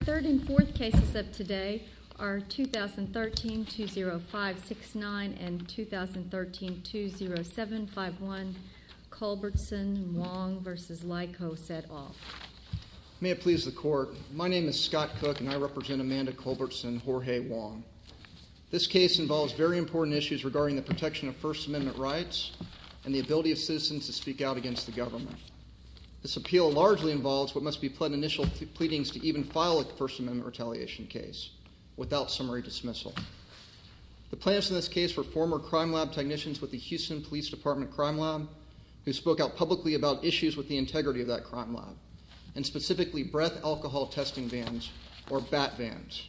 The third and fourth cases of today are 2013-20569 and 2013-20751, Culbertson v. Lykos et al. May it please the Court, my name is Scott Cook and I represent Amanda Culbertson and Jorge Wong. This case involves very important issues regarding the protection of First Amendment rights and the ability of citizens to speak out against the government. This appeal largely involves what must be pled initial pleadings to even file a First Amendment retaliation case without summary dismissal. The plaintiffs in this case were former crime lab technicians with the Houston Police Department Crime Lab who spoke out publicly about issues with the integrity of that crime lab and specifically breath alcohol testing vans or bat vans.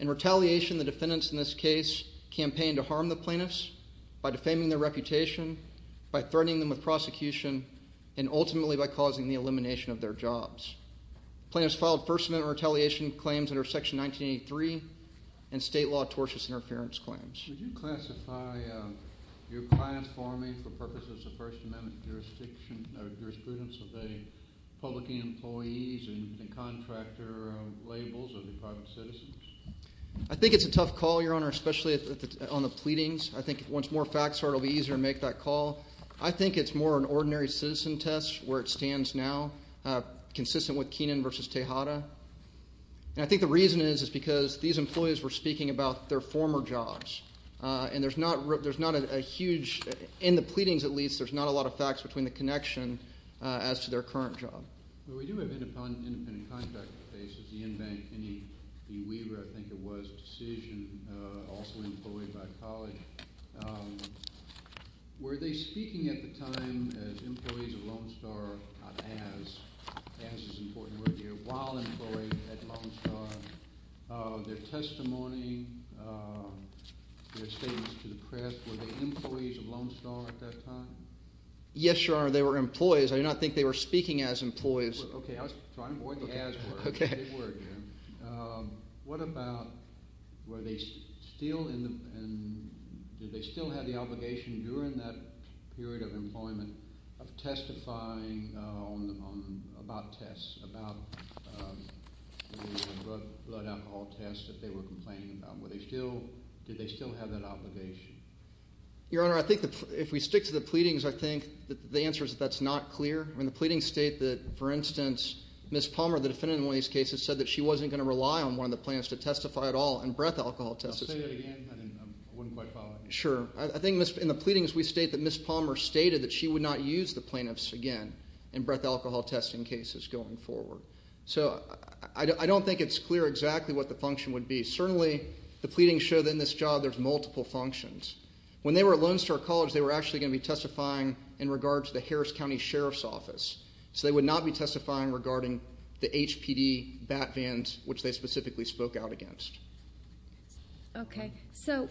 In retaliation, the defendants in this case campaigned to harm the plaintiffs by defaming their reputation, by threatening them with prosecution, and ultimately by causing the elimination of their jobs. The plaintiffs filed First Amendment retaliation claims under Section 1983 and state law tortious interference claims. Would you classify your client forming for purposes of First Amendment jurisprudence of the public employees and contractor labels of the private citizens? I think it's a tough call, Your Honor, especially on the pleadings. I think once more facts are out, it will be easier to make that call. I think it's more an ordinary citizen test where it stands now, consistent with Keenan v. Tejada. I think the reason is because these employees were speaking about their former jobs, and there's not a huge – in the pleadings, at least, there's not a lot of facts between the connection as to their current job. Well, we do have independent contractor cases. The Inbank – Kenny Weaver, I think it was – decision, also employed by a colleague. Were they speaking at the time as employees of Lone Star – not as, as is an important word here – while employed at Lone Star? Their testimony, their statements to the press, were they employees of Lone Star at that time? Yes, Your Honor, they were employees. I do not think they were speaking as employees. Okay, I was trying to avoid the as word. Okay. They were, Jim. What about were they still in the – did they still have the obligation during that period of employment of testifying on – about tests, about blood alcohol tests that they were complaining about? Were they still – did they still have that obligation? Your Honor, I think that if we stick to the pleadings, I think that the answer is that that's not clear. I mean, the pleadings state that, for instance, Ms. Palmer, the defendant in one of these cases, said that she wasn't going to rely on one of the plaintiffs to testify at all in breath alcohol tests. I'll say that again, and then I wouldn't quite follow. Sure. I think in the pleadings, we state that Ms. Palmer stated that she would not use the plaintiffs again in breath alcohol testing cases going forward. So I don't think it's clear exactly what the function would be. Certainly, the pleadings show that in this job there's multiple functions. When they were at Lone Star College, they were actually going to be testifying in regards to the Harris County Sheriff's Office. So they would not be testifying regarding the HPD bat vans, which they specifically spoke out against. Okay. So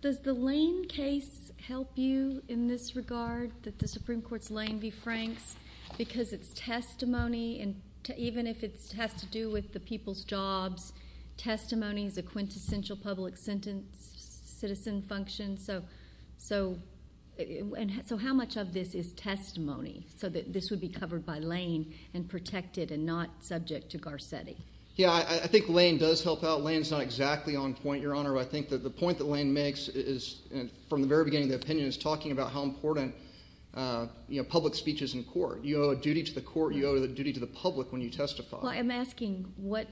does the Lane case help you in this regard that the Supreme Court's Lane be franks? Because it's testimony, and even if it has to do with the people's jobs, testimony is a quintessential public citizen function. So how much of this is testimony so that this would be covered by Lane and protected and not subject to Garcetti? Yeah, I think Lane does help out. Lane's not exactly on point, Your Honor. I think that the point that Lane makes is, from the very beginning of the opinion, is talking about how important public speech is in court. You owe a duty to the court. You owe a duty to the public when you testify. Well, I'm asking what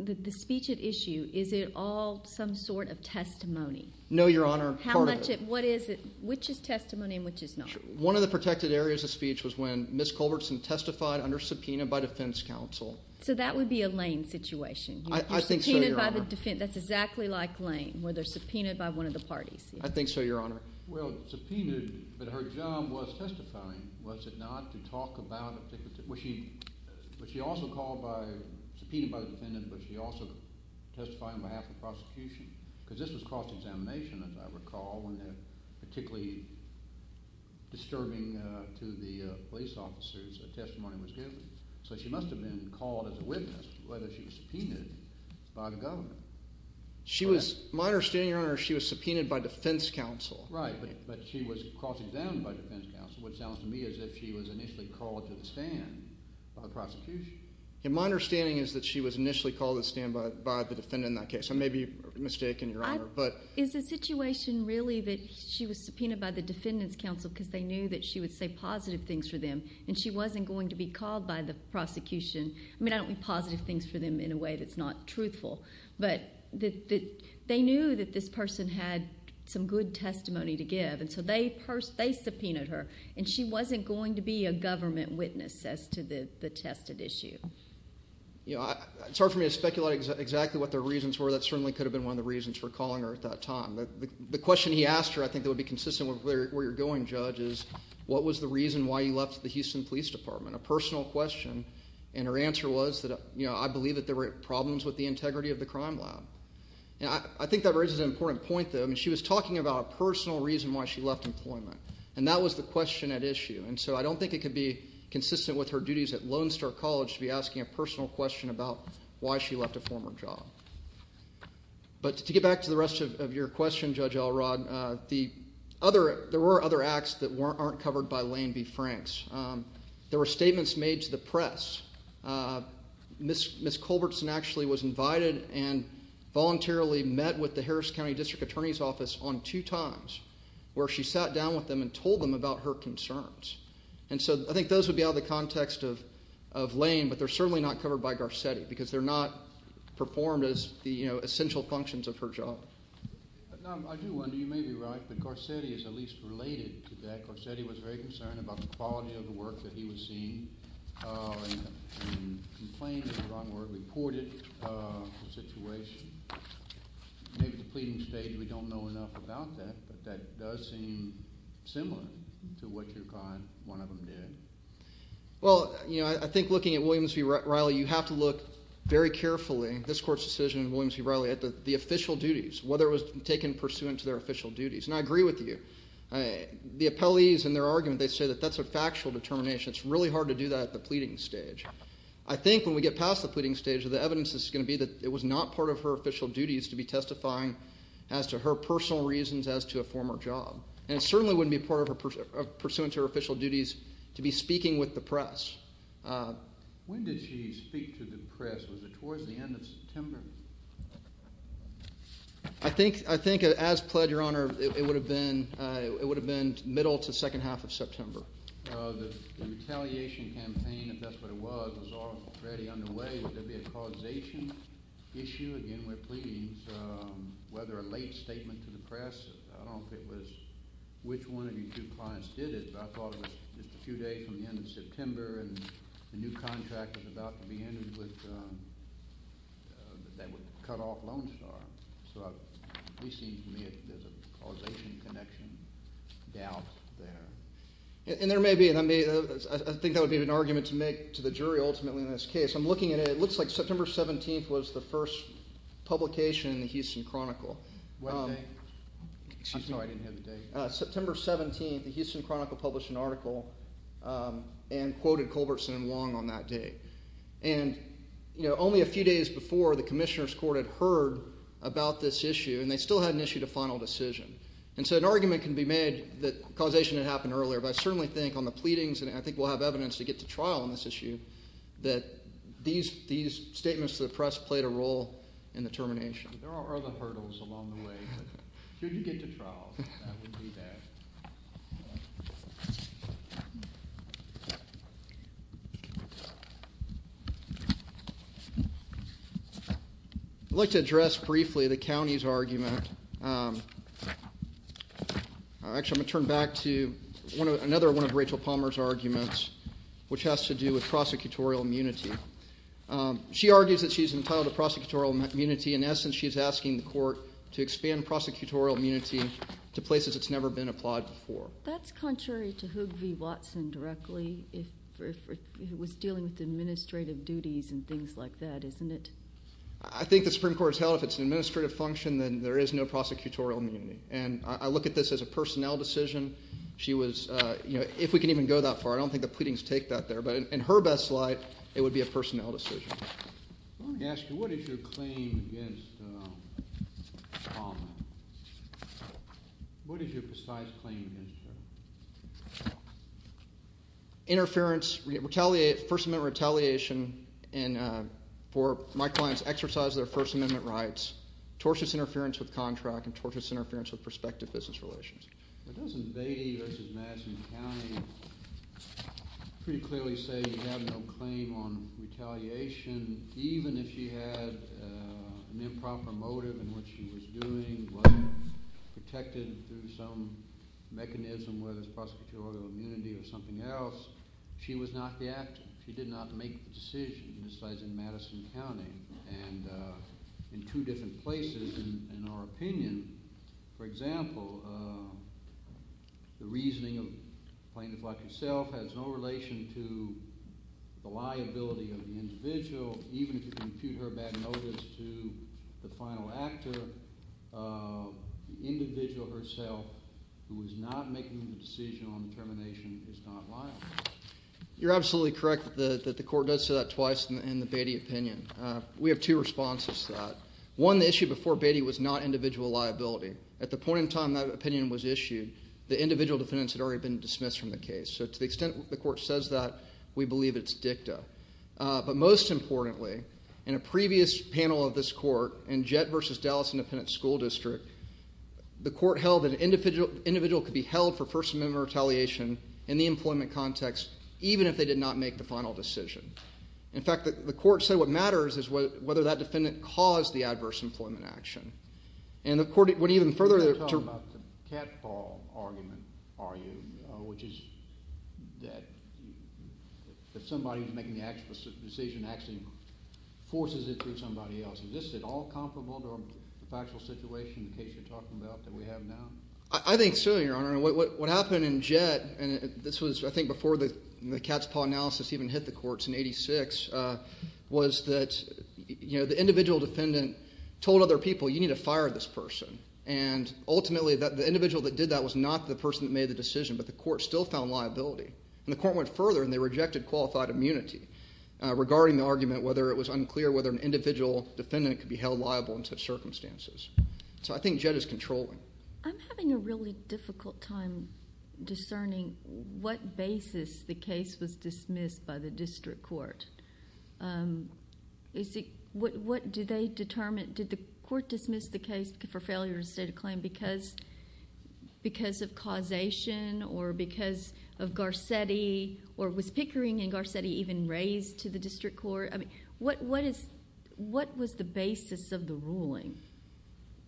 the speech at issue, is it all some sort of testimony? No, Your Honor. Part of it. What is it? Which is testimony and which is not? One of the protected areas of speech was when Ms. Culbertson testified under subpoena by defense counsel. So that would be a Lane situation? I think so, Your Honor. You're subpoenaed by the defense. That's exactly like Lane, where they're subpoenaed by one of the parties. I think so, Your Honor. Well, subpoenaed, but her job was testifying, was it not, to talk about a particular thing? Was she also called by – subpoenaed by the defendant, but she also testified on behalf of the prosecution? Because this was cross-examination, as I recall, when a particularly disturbing to the police officers testimony was given. So she must have been called as a witness, whether she was subpoenaed by the government. My understanding, Your Honor, is she was subpoenaed by defense counsel. Right, but she was cross-examined by defense counsel, which sounds to me as if she was initially called to the stand by the prosecution. My understanding is that she was initially called to the stand by the defendant in that case. I may be mistaken, Your Honor. Is the situation really that she was subpoenaed by the defendant's counsel because they knew that she would say positive things for them and she wasn't going to be called by the prosecution? I mean, I don't mean positive things for them in a way that's not truthful, but they knew that this person had some good testimony to give, and so they subpoenaed her, and she wasn't going to be a government witness as to the tested issue. It's hard for me to speculate exactly what their reasons were. That certainly could have been one of the reasons for calling her at that time. The question he asked her I think that would be consistent with where you're going, Judge, is what was the reason why you left the Houston Police Department, a personal question, and her answer was that, you know, I believe that there were problems with the integrity of the crime lab. I think that raises an important point, though. I mean, she was talking about a personal reason why she left employment, and that was the question at issue, and so I don't think it could be consistent with her duties at Lone Star College to be asking a personal question about why she left a former job. But to get back to the rest of your question, Judge Alrod, there were other acts that aren't covered by Lane v. Franks. There were statements made to the press. Ms. Culbertson actually was invited and voluntarily met with the Harris County District Attorney's Office on two times where she sat down with them and told them about her concerns, and so I think those would be out of the context of Lane, but they're certainly not covered by Garcetti because they're not performed as the, you know, essential functions of her job. Now, I do wonder, you may be right, but Garcetti is at least related to that. Garcetti was very concerned about the quality of the work that he was seeing and complained in the wrong word, reported the situation. Maybe the pleading stage, we don't know enough about that, but that does seem similar to what your client, one of them, did. Well, you know, I think looking at Williams v. Riley, you have to look very carefully, this court's decision in Williams v. Riley, at the official duties, whether it was taken pursuant to their official duties, and I agree with you. The appellees in their argument, they say that that's a factual determination. It's really hard to do that at the pleading stage. I think when we get past the pleading stage, the evidence is going to be that it was not part of her official duties to be testifying as to her personal reasons as to a former job, and it certainly wouldn't be part of her pursuant to her official duties to be speaking with the press. When did she speak to the press? Was it towards the end of September? I think as pled, Your Honor, it would have been middle to second half of September. The retaliation campaign, if that's what it was, was already underway. Would there be a causation issue? Again, we're pleading. Whether a late statement to the press, I don't know if it was which one of your two clients did it, but I thought it was just a few days from the end of September, and the new contract was about to be entered that would cut off Lone Star. So it seems to me there's a causation connection doubt there. And there may be, and I think that would be an argument to make to the jury ultimately in this case. I'm looking at it. It looks like September 17th was the first publication in the Houston Chronicle. What date? Excuse me. No, I didn't have the date. September 17th, the Houston Chronicle published an article and quoted Culbertson and Long on that date. And only a few days before, the Commissioner's Court had heard about this issue, and they still hadn't issued a final decision. And so an argument can be made that causation had happened earlier, but I certainly think on the pleadings, and I think we'll have evidence to get to trial on this issue, that these statements to the press played a role in the termination. There are other hurdles along the way, but should you get to trial, that would be that. I'd like to address briefly the county's argument. Actually, I'm going to turn back to another one of Rachel Palmer's arguments, which has to do with prosecutorial immunity. She argues that she's entitled to prosecutorial immunity. In essence, she's asking the court to expand prosecutorial immunity to places it's never been applied before. That's contrary to Hoogvee-Watson directly, if it was dealing with administrative duties and things like that, isn't it? I think the Supreme Court has held if it's an administrative function, then there is no prosecutorial immunity. And I look at this as a personnel decision. If we can even go that far, I don't think the pleadings take that there. But in her best light, it would be a personnel decision. Let me ask you, what is your claim against Palmer? What is your precise claim against her? Interference, retaliation, First Amendment retaliation for my client's exercise of their First Amendment rights, tortious interference with contract, and tortious interference with prospective business relations. But doesn't Beatty versus Madison County pretty clearly say you have no claim on retaliation, even if she had an improper motive in what she was doing, wasn't protected through some mechanism, whether it's prosecutorial immunity or something else? She was not the actor. She did not make the decision, besides in Madison County and in two different places, in our opinion. For example, the reasoning of plaintiff like yourself has no relation to the liability of the individual, even if you compute her bad notice to the final actor, the individual herself who was not making the decision on termination is not liable. You're absolutely correct that the court does say that twice in the Beatty opinion. We have two responses to that. One, the issue before Beatty was not individual liability. At the point in time that opinion was issued, the individual defendants had already been dismissed from the case. So to the extent the court says that, we believe it's dicta. But most importantly, in a previous panel of this court, in Jett versus Dallas Independent School District, the court held that an individual could be held for First Amendment retaliation in the employment context, even if they did not make the final decision. In fact, the court said what matters is whether that defendant caused the adverse employment action. And the court went even further. You're talking about the cat's paw argument, are you, which is that somebody who's making the decision actually forces it through somebody else. Is this at all comparable to a factual situation in the case you're talking about that we have now? I think so, Your Honor. What happened in Jett, and this was, I think, before the cat's paw analysis even hit the courts in 86, was that the individual defendant told other people, you need to fire this person. And ultimately, the individual that did that was not the person that made the decision, but the court still found liability. And the court went further, and they rejected qualified immunity regarding the argument, whether it was unclear whether an individual defendant could be held liable in such circumstances. So I think Jett is controlling. I'm having a really difficult time discerning what basis the case was dismissed by the district court. What do they determine? Did the court dismiss the case for failure to state a claim because of causation or because of Garcetti, or was Pickering and Garcetti even raised to the district court? I mean, what was the basis of the ruling?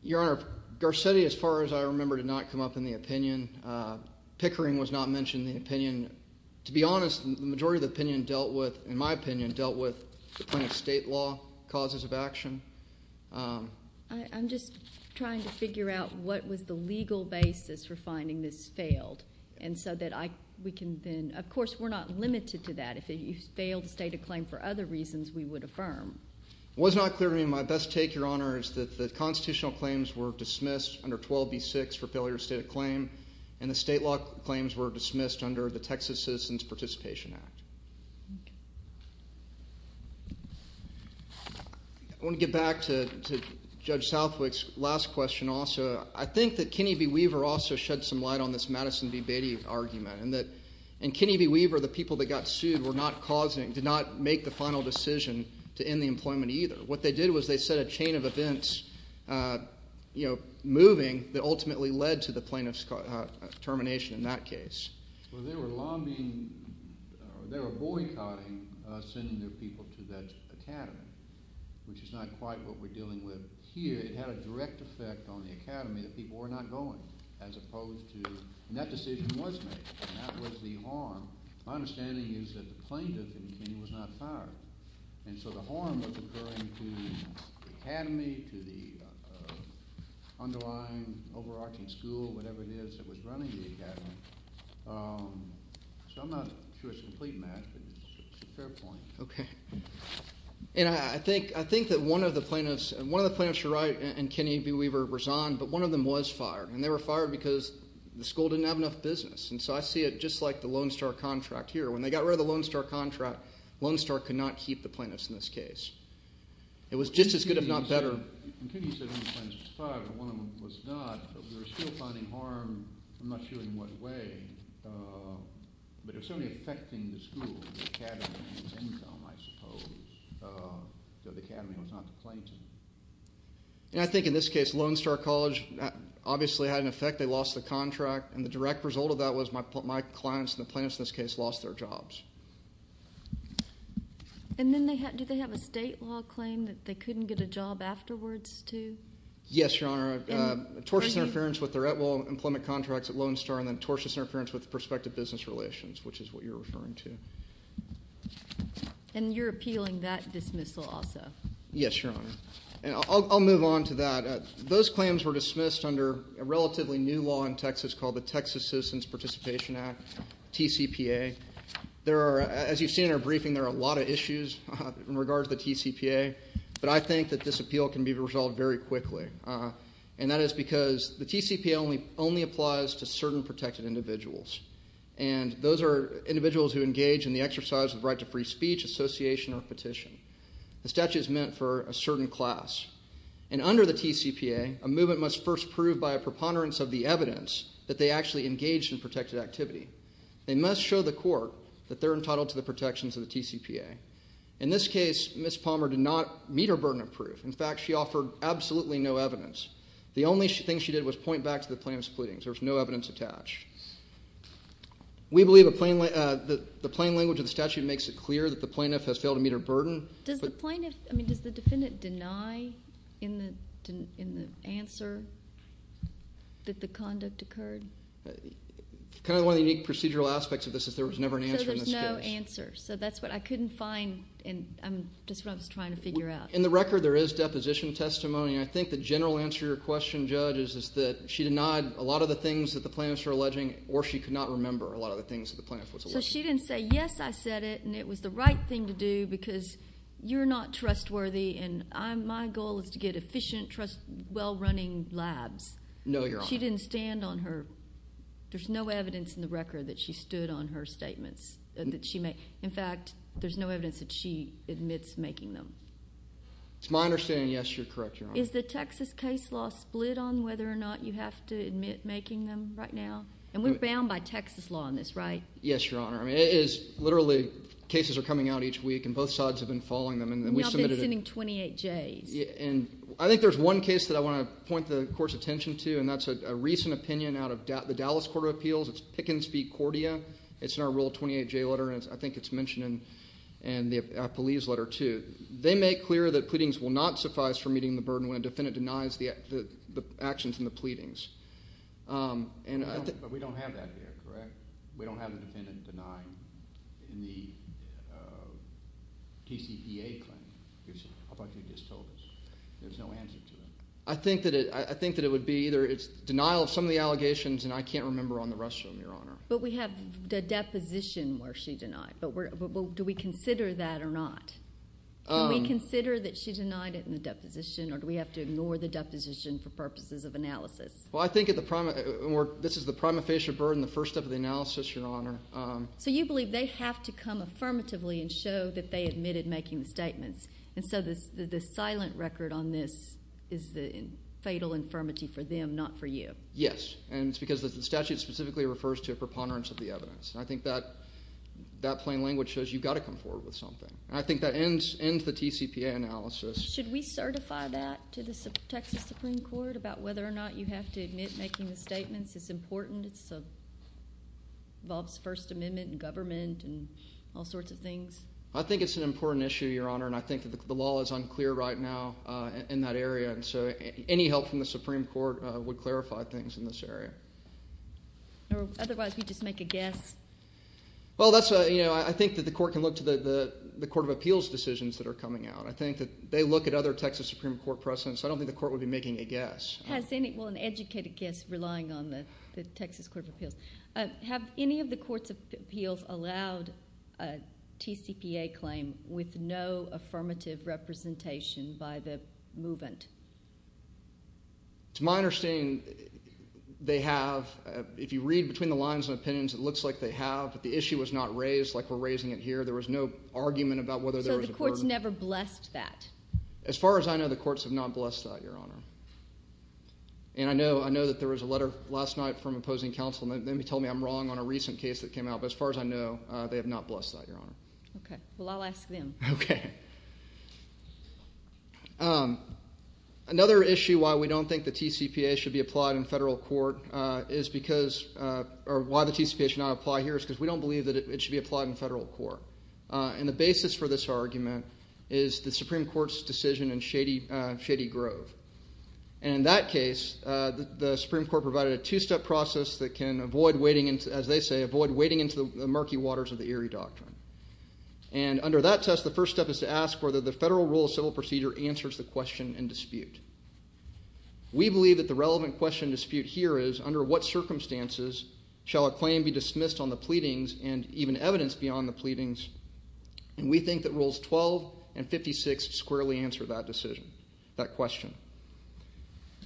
Your Honor, Garcetti, as far as I remember, did not come up in the opinion. Pickering was not mentioned in the opinion. To be honest, the majority of the opinion dealt with, in my opinion, dealt with the point of state law, causes of action. I'm just trying to figure out what was the legal basis for finding this failed. And so that we can then, of course, we're not limited to that. If it failed to state a claim for other reasons, we would affirm. It was not clear to me. My best take, Your Honor, is that the constitutional claims were dismissed under 12B6 for failure to state a claim, and the state law claims were dismissed under the Texas Citizens Participation Act. I want to get back to Judge Southwick's last question also. I think that Kenny B. Weaver also shed some light on this Madison v. Beatty argument, and Kenny B. Weaver, the people that got sued, did not make the final decision to end the employment either. What they did was they set a chain of events moving that ultimately led to the plaintiff's termination in that case. Well, they were boycotting sending their people to that academy, which is not quite what we're dealing with here. It had a direct effect on the academy that people were not going, as opposed to – and that decision was made, and that was the harm. My understanding is that the plaintiff, in his opinion, was not fired, and so the harm was occurring to the academy, to the underlying overarching school, whatever it is that was running the academy. So I'm not sure it's a complete match, but it's a fair point. Okay. I think that one of the plaintiffs – one of the plaintiffs, Shirai and Kenny B. Weaver, resigned, but one of them was fired, and they were fired because the school didn't have enough business. And so I see it just like the Lone Star contract here. When they got rid of the Lone Star contract, Lone Star could not keep the plaintiffs in this case. It was just as good, if not better. And Kenny said one of the plaintiffs was fired, but one of them was not. They were still finding harm. I'm not sure in what way, but it was certainly affecting the school, the academy's income, I suppose. So the academy was not the plaintiff. I think in this case, Lone Star College obviously had an effect. They lost the contract, and the direct result of that was my clients and the plaintiffs in this case lost their jobs. And then do they have a state law claim that they couldn't get a job afterwards, too? Yes, Your Honor. Tortious interference with their Atwell employment contracts at Lone Star and then tortious interference with the prospective business relations, which is what you're referring to. And you're appealing that dismissal also? Yes, Your Honor. And I'll move on to that. Those claims were dismissed under a relatively new law in Texas called the Texas Citizens Participation Act, TCPA. As you've seen in our briefing, there are a lot of issues in regards to the TCPA, but I think that this appeal can be resolved very quickly, and that is because the TCPA only applies to certain protected individuals, and those are individuals who engage in the exercise of the right to free speech, association, or petition. The statute is meant for a certain class. And under the TCPA, a movement must first prove by a preponderance of the evidence that they actually engaged in protected activity. They must show the court that they're entitled to the protections of the TCPA. In this case, Ms. Palmer did not meet her burden of proof. In fact, she offered absolutely no evidence. The only thing she did was point back to the plaintiff's pleadings. There was no evidence attached. We believe the plain language of the statute makes it clear that the plaintiff has failed to meet her burden. Does the defendant deny in the answer that the conduct occurred? Kind of one of the unique procedural aspects of this is there was never an answer in this case. So there's no answer. So that's what I couldn't find, and just what I was trying to figure out. In the record, there is deposition testimony. I think the general answer to your question, Judge, is that she denied a lot of the things that the plaintiff is alleging, or she could not remember a lot of the things that the plaintiff was alleging. So she didn't say, yes, I said it, and it was the right thing to do because you're not trustworthy, No, Your Honor. She didn't stand on her. There's no evidence in the record that she stood on her statements. In fact, there's no evidence that she admits making them. It's my understanding, yes, you're correct, Your Honor. Is the Texas case law split on whether or not you have to admit making them right now? And we're bound by Texas law on this, right? Yes, Your Honor. I mean, it is literally cases are coming out each week, and both sides have been following them. Now I've been sending 28 Js. And I think there's one case that I want to point the court's attention to, and that's a recent opinion out of the Dallas Court of Appeals. It's Pickens v. Cordia. It's in our Rule 28J letter, and I think it's mentioned in the police letter too. They make clear that pleadings will not suffice for meeting the burden when a defendant denies the actions in the pleadings. But we don't have that here, correct? We don't have a defendant denying in the TCPA claim. I thought you just told us. There's no answer to that. I think that it would be either it's denial of some of the allegations, and I can't remember on the rest of them, Your Honor. But we have the deposition where she denied. Do we consider that or not? Do we consider that she denied it in the deposition, or do we have to ignore the deposition for purposes of analysis? Well, I think this is the prima facie burden, the first step of the analysis, Your Honor. So you believe they have to come affirmatively and show that they admitted making the statements, and so the silent record on this is the fatal infirmity for them, not for you? Yes, and it's because the statute specifically refers to a preponderance of the evidence. I think that plain language shows you've got to come forward with something. I think that ends the TCPA analysis. Should we certify that to the Texas Supreme Court about whether or not you have to admit making the statements? It's important. It involves the First Amendment and government and all sorts of things. I think it's an important issue, Your Honor, and I think that the law is unclear right now in that area, and so any help from the Supreme Court would clarify things in this area. Otherwise, we'd just make a guess. Well, I think that the court can look to the court of appeals decisions that are coming out. I think that they look at other Texas Supreme Court precedents. I don't think the court would be making a guess. Well, an educated guess relying on the Texas Court of Appeals. Have any of the court's appeals allowed a TCPA claim with no affirmative representation by the movement? To my understanding, they have. If you read between the lines of opinions, it looks like they have, but the issue was not raised like we're raising it here. There was no argument about whether there was a burden. The courts never blessed that? As far as I know, the courts have not blessed that, Your Honor. I know that there was a letter last night from opposing counsel, and they told me I'm wrong on a recent case that came out, but as far as I know, they have not blessed that, Your Honor. Okay. Well, I'll ask them. Okay. Another issue why we don't think the TCPA should be applied in federal court is because or why the TCPA should not apply here is because we don't believe that it should be applied in federal court. And the basis for this argument is the Supreme Court's decision in Shady Grove. And in that case, the Supreme Court provided a two-step process that can avoid wading into, as they say, avoid wading into the murky waters of the Erie Doctrine. And under that test, the first step is to ask whether the federal rule of civil procedure answers the question in dispute. We believe that the relevant question in dispute here is, under what circumstances shall a claim be dismissed on the pleadings and even evidence beyond the pleadings? And we think that Rules 12 and 56 squarely answer that decision, that question.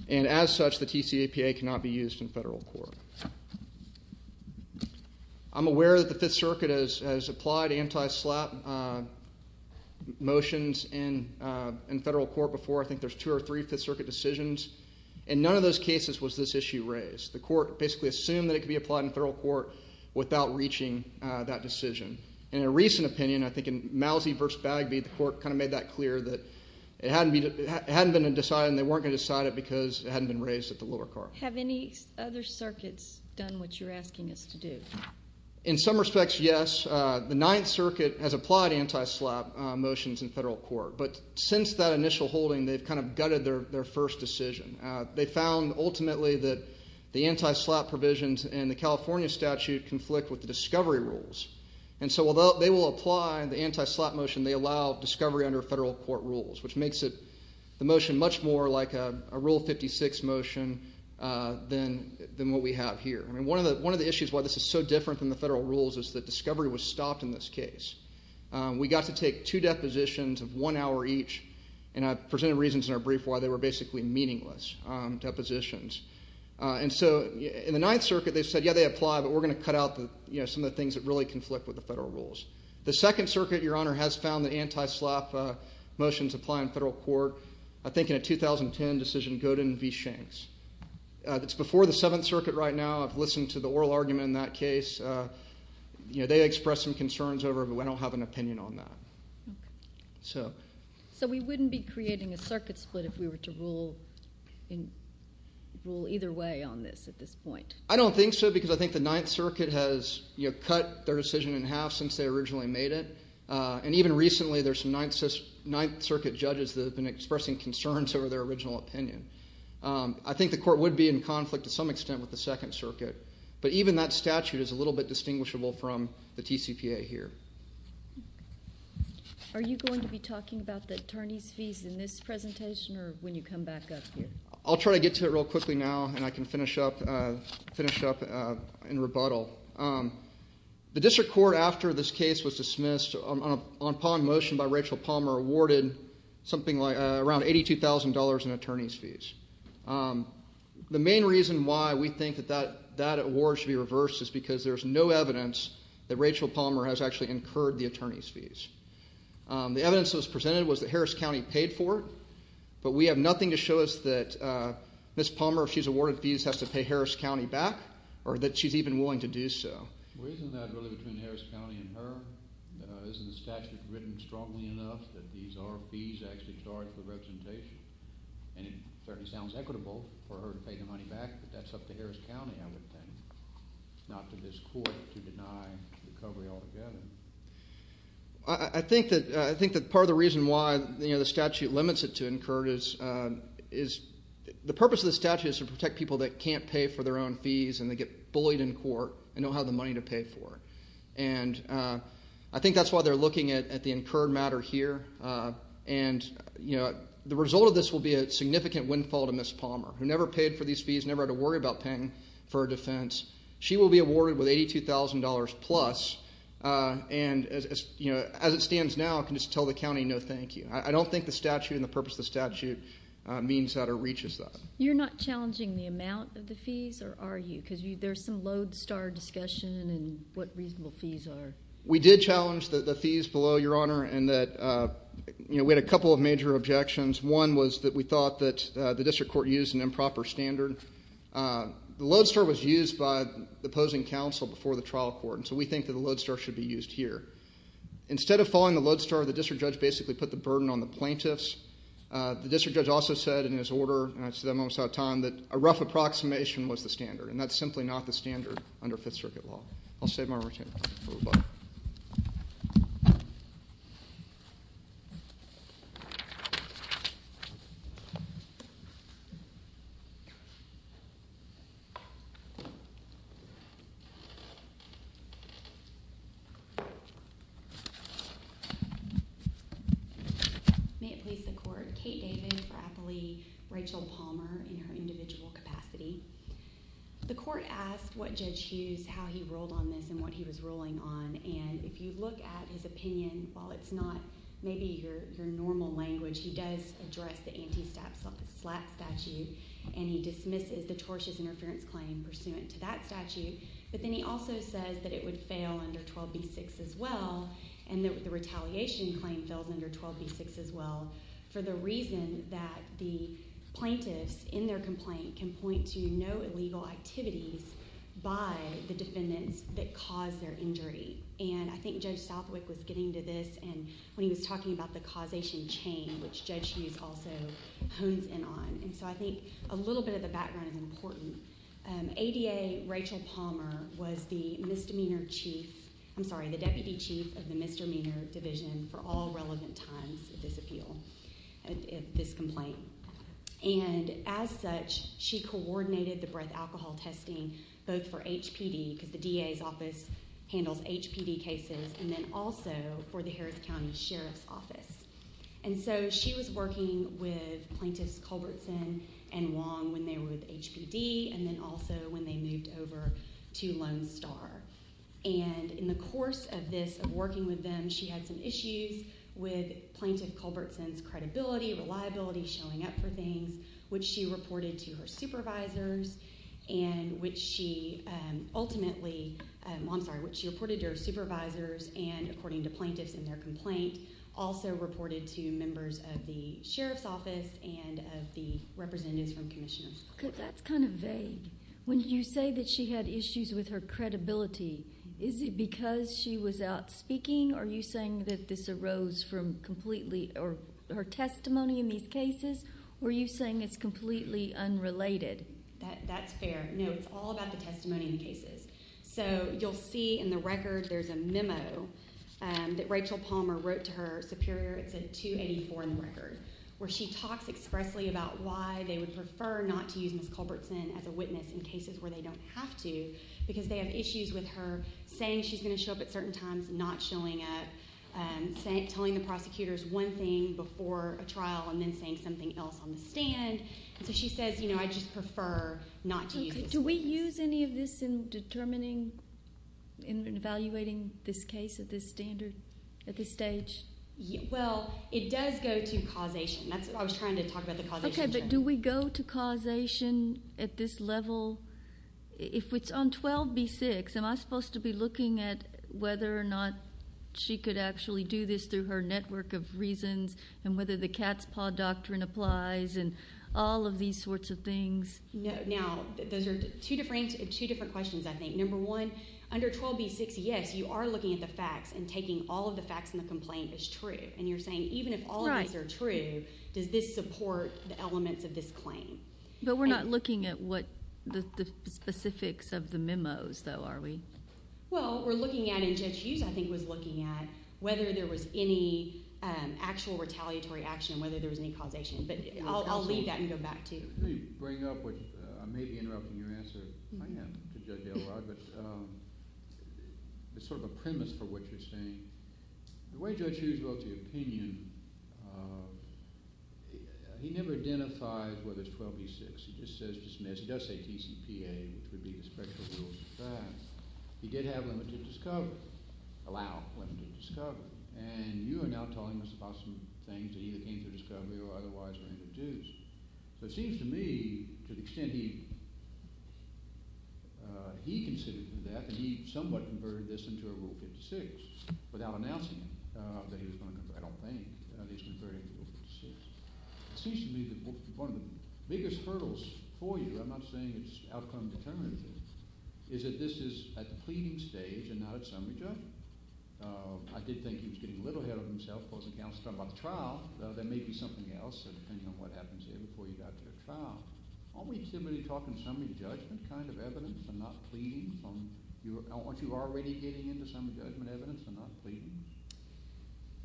And as such, the TCPA cannot be used in federal court. I'm aware that the Fifth Circuit has applied anti-SLAPP motions in federal court before. I think there's two or three Fifth Circuit decisions. In none of those cases was this issue raised. The court basically assumed that it could be applied in federal court without reaching that decision. In a recent opinion, I think in Mousey v. Bagby, the court kind of made that clear that it hadn't been decided and they weren't going to decide it because it hadn't been raised at the lower court. Have any other circuits done what you're asking us to do? In some respects, yes. The Ninth Circuit has applied anti-SLAPP motions in federal court. But since that initial holding, they've kind of gutted their first decision. They found ultimately that the anti-SLAPP provisions in the California statute conflict with the discovery rules. And so although they will apply the anti-SLAPP motion, they allow discovery under federal court rules, which makes the motion much more like a Rule 56 motion than what we have here. I mean, one of the issues why this is so different from the federal rules is that discovery was stopped in this case. We got to take two depositions of one hour each, and I presented reasons in our brief why they were basically meaningless depositions. And so in the Ninth Circuit, they said, yeah, they apply, but we're going to cut out some of the things that really conflict with the federal rules. The Second Circuit, Your Honor, has found that anti-SLAPP motions apply in federal court. I think in a 2010 decision, Godin v. Shanks. That's before the Seventh Circuit right now. I've listened to the oral argument in that case. They expressed some concerns over it, but I don't have an opinion on that. So we wouldn't be creating a circuit split if we were to rule either way on this at this point? I don't think so because I think the Ninth Circuit has cut their decision in half since they originally made it. And even recently, there's some Ninth Circuit judges that have been expressing concerns over their original opinion. I think the court would be in conflict to some extent with the Second Circuit, but even that statute is a little bit distinguishable from the TCPA here. Are you going to be talking about the attorney's fees in this presentation or when you come back up here? I'll try to get to it real quickly now, and I can finish up in rebuttal. The district court, after this case was dismissed, upon motion by Rachel Palmer, awarded something like around $82,000 in attorney's fees. The main reason why we think that that award should be reversed is because there's no evidence that Rachel Palmer has actually incurred the attorney's fees. The evidence that was presented was that Harris County paid for it, but we have nothing to show us that Ms. Palmer, if she's awarded fees, has to pay Harris County back or that she's even willing to do so. Well, isn't that really between Harris County and her? Isn't the statute written strongly enough that these are fees actually charged for representation? And it certainly sounds equitable for her to pay the money back, but that's up to Harris County, I would think, not to this court to deny recovery altogether. I think that part of the reason why the statute limits it to incurred is the purpose of the statute is to protect people that can't pay for their own fees and they get bullied in court and don't have the money to pay for it. And I think that's why they're looking at the incurred matter here. And the result of this will be a significant windfall to Ms. Palmer, who never paid for these fees, never had to worry about paying for a defense. She will be awarded with $82,000 plus, and as it stands now, can just tell the county no thank you. I don't think the statute and the purpose of the statute means that it reaches that. You're not challenging the amount of the fees, or are you? Because there's some lodestar discussion in what reasonable fees are. We did challenge the fees below, Your Honor, and we had a couple of major objections. One was that we thought that the district court used an improper standard. The lodestar was used by the opposing counsel before the trial court, and so we think that the lodestar should be used here. Instead of following the lodestar, the district judge basically put the burden on the plaintiffs. The district judge also said in his order, and I just didn't have time, that a rough approximation was the standard, and that's simply not the standard under Fifth Circuit law. I'll save my return for a moment. May it please the Court. Kate David for athlete, Rachel Palmer in her individual capacity. The court asked Judge Hughes how he ruled on this and what he was ruling on, and if you look at his opinion, while it's not maybe your normal language, he does address the anti-SLAT statute, and he dismisses the tortious interference claim pursuant to that statute, but then he also says that it would fail under 12b-6 as well, and the retaliation claim fails under 12b-6 as well, for the reason that the plaintiffs in their complaint can point to no illegal activities by the defendants that caused their injury, and I think Judge Southwick was getting to this when he was talking about the causation chain, which Judge Hughes also hones in on, and so I think a little bit of the background is important. ADA Rachel Palmer was the deputy chief of the misdemeanor division for all relevant times of this appeal, this complaint, and as such she coordinated the breath alcohol testing both for HPD, because the DA's office handles HPD cases, and then also for the Harris County Sheriff's Office, and so she was working with plaintiffs Culbertson and Wong when they were with HPD, and then also when they moved over to Lone Star, and in the course of this, of working with them, she had some issues with Plaintiff Culbertson's credibility, reliability, showing up for things, which she reported to her supervisors, and which she ultimately, I'm sorry, which she reported to her supervisors, and according to plaintiffs in their complaint, also reported to members of the Sheriff's Office and of the representatives from commissioners. That's kind of vague. When you say that she had issues with her credibility, is it because she was out speaking, or are you saying that this arose from completely, or her testimony in these cases, or are you saying it's completely unrelated? That's fair. No, it's all about the testimony in cases. So you'll see in the record there's a memo that Rachel Palmer wrote to her superior. It's a 284 in the record, where she talks expressly about why they would prefer not to use Ms. Culbertson as a witness in cases where they don't have to, because they have issues with her saying she's going to show up at certain times, not showing up, telling the prosecutors one thing before a trial, and then saying something else on the stand. So she says, you know, I just prefer not to use Ms. Culbertson. Do we use any of this in determining, in evaluating this case at this standard, at this stage? Well, it does go to causation. That's what I was trying to talk about, the causation. Okay, but do we go to causation at this level? If it's on 12b-6, am I supposed to be looking at whether or not she could actually do this through her network of reasons, and whether the cat's paw doctrine applies, and all of these sorts of things? Now, those are two different questions, I think. Number one, under 12b-6, yes, you are looking at the facts and taking all of the facts in the complaint as true. And you're saying, even if all of these are true, does this support the elements of this claim? But we're not looking at the specifics of the memos, though, are we? Well, we're looking at, and Judge Hughes, I think, was looking at, whether there was any actual retaliatory action, whether there was any causation. But I'll leave that and go back to you. Let me bring up what I may be interrupting your answer. I am, to Judge Elrod, but it's sort of a premise for what you're saying. The way Judge Hughes wrote the opinion, he never identifies whether it's 12b-6. He just says dismissed. He does say TCPA, which would be the special rules of the class. He did have limited discovery, allow limited discovery. And you are now telling us about some things that either came through discovery or otherwise were introduced. So it seems to me, to the extent he considered that, that he somewhat converted this into a Rule 56 without announcing it, that he was going to convert it. I don't think that he was converting the Rule 56. It seems to me that one of the biggest hurdles for you, I'm not saying it's outcome determinative, is that this is at the pleading stage and not at summary judgment. I did think he was getting a little ahead of himself, but the trial, there may be something else, depending on what happens there before you got to the trial. Aren't we typically talking summary judgment kind of evidence and not pleading? Aren't you already getting into summary judgment evidence and not pleading?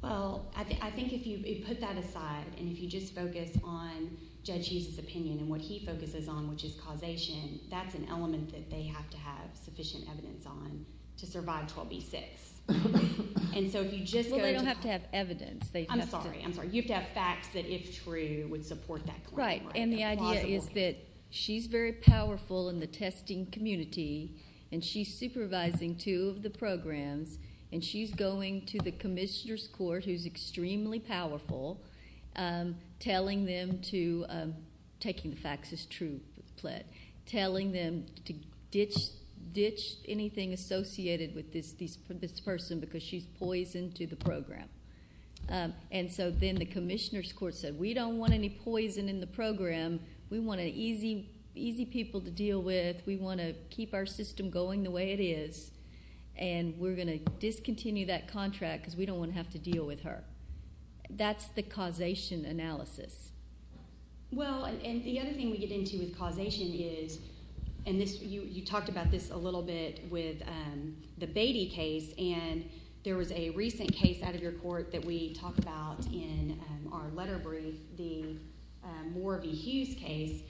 Well, I think if you put that aside and if you just focus on Judge Hughes' opinion and what he focuses on, which is causation, that's an element that they have to have sufficient evidence on to survive 12b-6. Well, they don't have to have evidence. I'm sorry. You have to have facts that, if true, would support that claim. Right. And the idea is that she's very powerful in the testing community and she's supervising two of the programs and she's going to the commissioner's court, who's extremely powerful, telling them to, taking the facts as true, telling them to ditch anything associated with this person because she's poison to the program. And so then the commissioner's court said, we don't want any poison in the program. We want easy people to deal with. We want to keep our system going the way it is, and we're going to discontinue that contract because we don't want to have to deal with her. That's the causation analysis. Well, and the other thing we get into with causation is, and you talked about this a little bit with the Beatty case, and there was a recent case out of your court that we talked about in our letter brief, the Morabee Hughes case,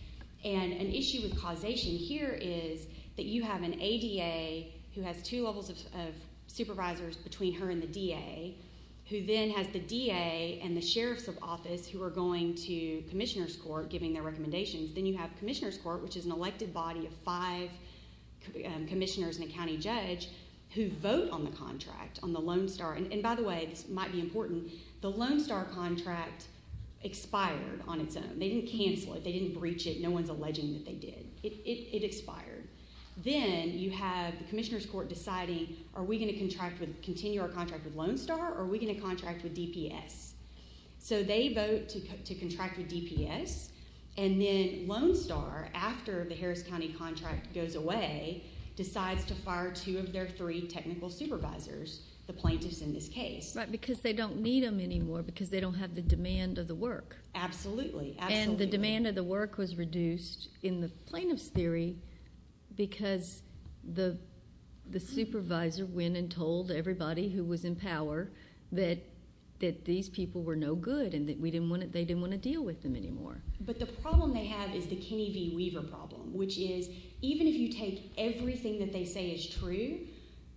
and an issue with causation here is that you have an ADA who has two levels of supervisors between her and the DA, who then has the DA and the sheriff's office who are going to commissioner's court giving their recommendations. Then you have commissioner's court, which is an elected body of five commissioners and a county judge who vote on the contract, on the Lone Star. And by the way, this might be important, the Lone Star contract expired on its own. They didn't cancel it. They didn't breach it. No one's alleging that they did. It expired. Then you have the commissioner's court deciding, are we going to continue our contract with Lone Star, or are we going to contract with DPS? So they vote to contract with DPS, and then Lone Star, after the Harris County contract goes away, decides to fire two of their three technical supervisors, the plaintiffs in this case. Right, because they don't need them anymore because they don't have the demand of the work. Absolutely. Absolutely. And the demand of the work was reduced in the plaintiff's theory because the supervisor went and told everybody who was in power that these people were no good and that they didn't want to deal with them anymore. But the problem they have is the Kenny V. Weaver problem, which is even if you take everything that they say is true,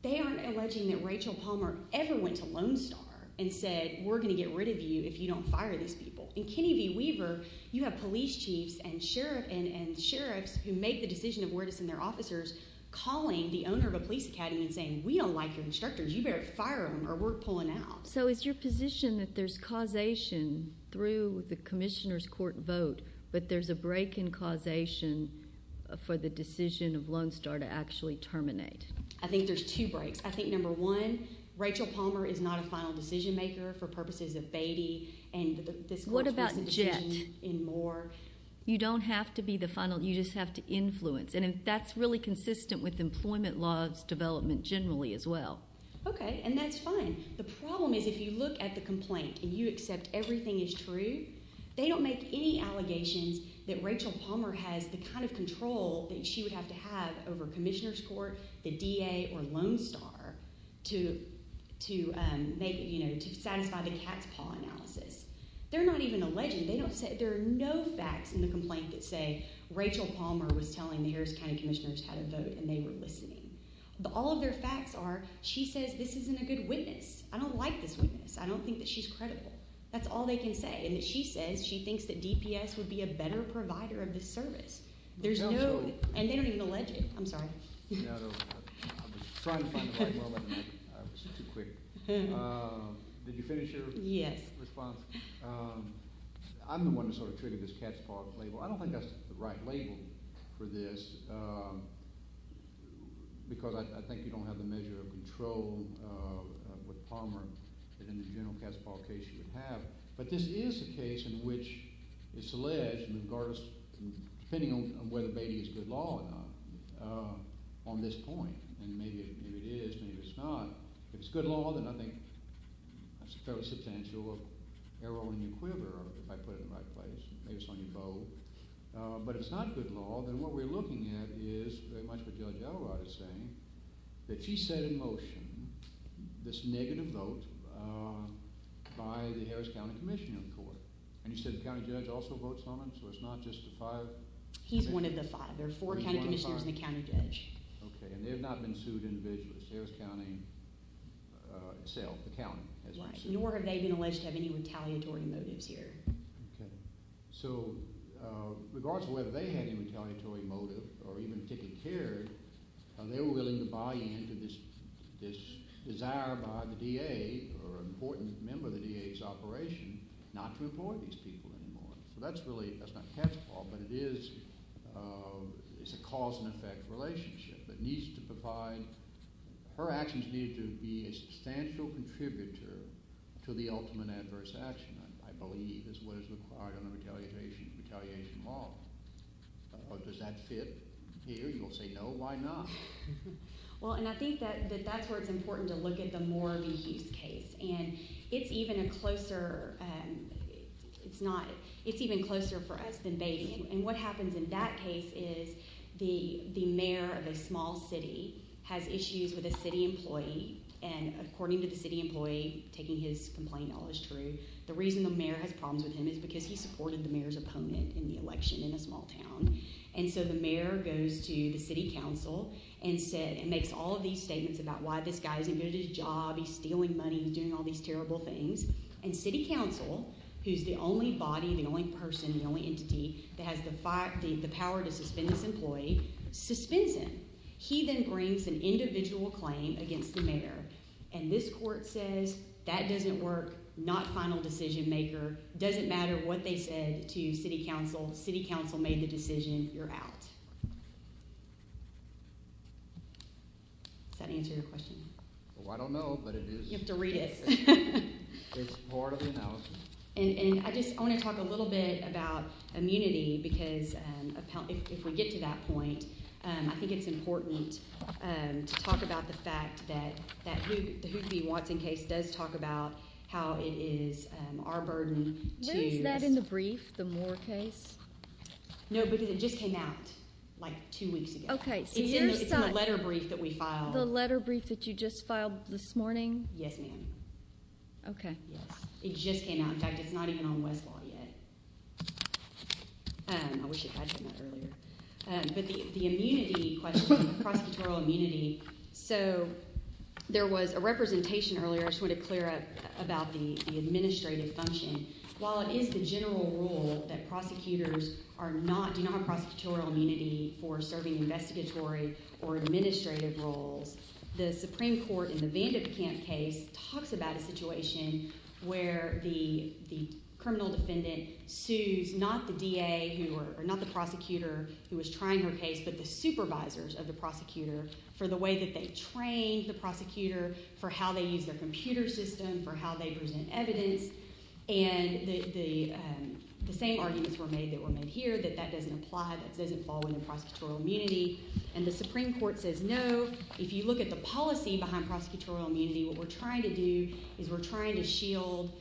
they aren't alleging that Rachel Palmer ever went to Lone Star and said, we're going to get rid of you if you don't fire these people. In Kenny V. Weaver, you have police chiefs and sheriffs who make the decision of where to send their officers calling the owner of a police academy and saying, we don't like your instructors. You better fire them or we're pulling out. So is your position that there's causation through the commissioner's court vote, but there's a break in causation for the decision of Lone Star to actually terminate? I think there's two breaks. I think, number one, Rachel Palmer is not a final decision maker for purposes of Beatty. What about Jett? You don't have to be the final. You just have to influence. And that's really consistent with employment laws development generally as well. Okay, and that's fine. The problem is if you look at the complaint and you accept everything is true, they don't make any allegations that Rachel Palmer has the kind of control that she would have to have over commissioner's court, the DA, or Lone Star to satisfy the cat's paw analysis. They're not even alleging. There are no facts in the complaint that say Rachel Palmer was telling the Harris County commissioners how to vote and they were listening. All of their facts are she says this isn't a good witness. I don't like this witness. I don't think that she's credible. That's all they can say. She says she thinks that DPS would be a better provider of the service. And they don't even allege it. I'm sorry. I was trying to find the right word, but I was too quick. Did you finish your response? Yes. I'm the one who sort of triggered this cat's paw label. I don't think that's the right label for this because I think you don't have the measure of control with Palmer that in the general cat's paw case you would have. But this is a case in which it's alleged, regardless of depending on whether baby is good law or not, on this point, and maybe it is, maybe it's not, if it's good law, then I think that's a fairly substantial error in your quiver, if I put it in the right place. Maybe it's on your bow. But if it's not good law, then what we're looking at is very much what Judge Elrod is saying, that she set in motion this negative vote by the Harris County Commissioner of the Court. And you said the county judge also votes on it, so it's not just the five? He's one of the five. There are four county commissioners and a county judge. Okay, and they have not been sued individually. It's Harris County itself, the county. Nor have they been alleged to have any retaliatory motives here. Okay. So regardless of whether they had any retaliatory motive or even particularly cared, they were willing to buy into this desire by the DA or an important member of the DA's operation not to employ these people anymore. So that's not cat's paw, but it is a cause-and-effect relationship that needs to provide... to the ultimate adverse action, I believe, is what is required on a retaliation law. Does that fit here? You'll say, no, why not? Well, and I think that that's where it's important to look at the more of a use case. And it's even a closer... It's not... It's even closer for us than babying. And what happens in that case is the mayor of a small city has issues with a city employee, and according to the city employee, taking his complaint, all is true, the reason the mayor has problems with him is because he supported the mayor's opponent in the election in a small town. And so the mayor goes to the city council and makes all of these statements about why this guy isn't good at his job, he's stealing money, he's doing all these terrible things. And city council, who's the only body, the only person, the only entity that has the power to suspend this employee, suspends him. He then brings an individual claim against the mayor, and this court says, that doesn't work, not final decision maker, doesn't matter what they said to city council, city council made the decision, you're out. Does that answer your question? Well, I don't know, but it is. You have to read it. It's part of the analysis. And I just want to talk a little bit about immunity, because if we get to that point, I think it's important to talk about the fact that the Whoopi Watson case does talk about how it is our burden to... When is that in the brief, the Moore case? No, because it just came out like two weeks ago. Okay, so you're saying... It's in the letter brief that we filed. The letter brief that you just filed this morning? Yes, ma'am. Okay. Yes, it just came out. In fact, it's not even on Westlaw yet. I wish I had read that earlier. But the immunity question, prosecutorial immunity, so there was a representation earlier, I just want to clear up about the administrative function. While it is the general rule that prosecutors do not have prosecutorial immunity for serving investigatory or administrative roles, the Supreme Court in the Vandip Camp case talks about a situation where the criminal defendant sues not the DA or not the prosecutor who was trying her case, but the supervisors of the prosecutor for the way that they trained the prosecutor for how they use their computer system, for how they present evidence. And the same arguments were made that were made here, that that doesn't apply, that doesn't fall under prosecutorial immunity. And the Supreme Court says, no, if you look at the policy behind prosecutorial immunity, what we're trying to do is we're trying to shield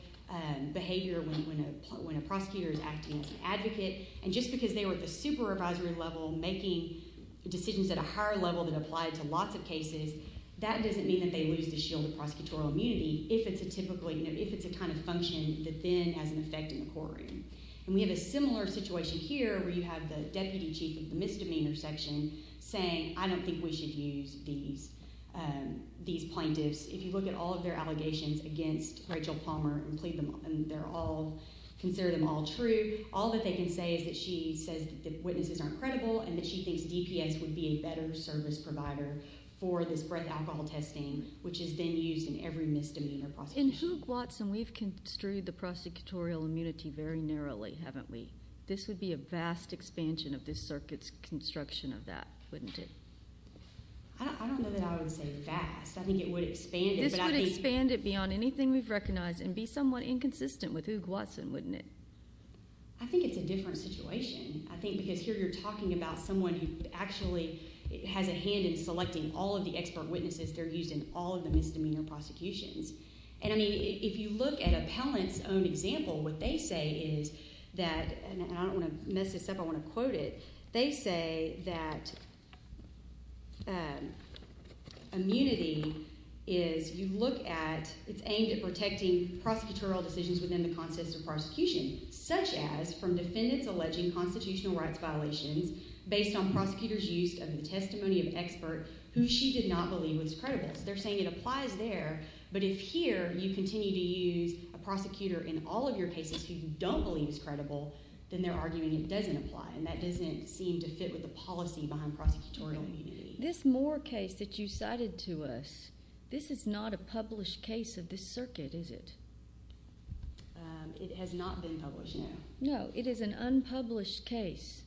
behavior when a prosecutor is acting as an advocate. And just because they were at the supervisory level making decisions at a higher level that applied to lots of cases, that doesn't mean that they lose the shield of prosecutorial immunity if it's a kind of function that then has an effect in the courtroom. And we have a similar situation here where you have the deputy chief of the misdemeanor section saying, I don't think we should use these plaintiffs. If you look at all of their allegations against Rachel Palmer and plead them, and they're all, consider them all true, all that they can say is that she says that the witnesses aren't credible and that she thinks DPS would be a better service provider for this breath alcohol testing, which is then used in every misdemeanor prosecution. In Hoog Watson, we've construed the prosecutorial immunity very narrowly, haven't we? This would be a vast expansion of this circuit's construction of that, wouldn't it? I don't know that I would say vast. I think it would expand it. This would expand it beyond anything we've recognized and be somewhat inconsistent with Hoog Watson, wouldn't it? I think it's a different situation. I think because here you're talking about someone who actually has a hand in selecting all of the expert witnesses they're using in all of the misdemeanor prosecutions. And, I mean, if you look at Appellant's own example, what they say is that, and I don't want to mess this up, I want to quote it, they say that immunity is, you look at, it's aimed at protecting prosecutorial decisions within the context of prosecution, such as from defendants alleging constitutional rights violations based on prosecutors' use of the testimony of expert who she did not believe was credible. They're saying it applies there, but if here you continue to use a prosecutor in all of your cases who you don't believe is credible, then they're arguing it doesn't apply, and that doesn't seem to fit with the policy behind prosecutorial immunity. This Moore case that you cited to us, this is not a published case of this circuit, is it? It has not been published, no. No, it is an unpublished case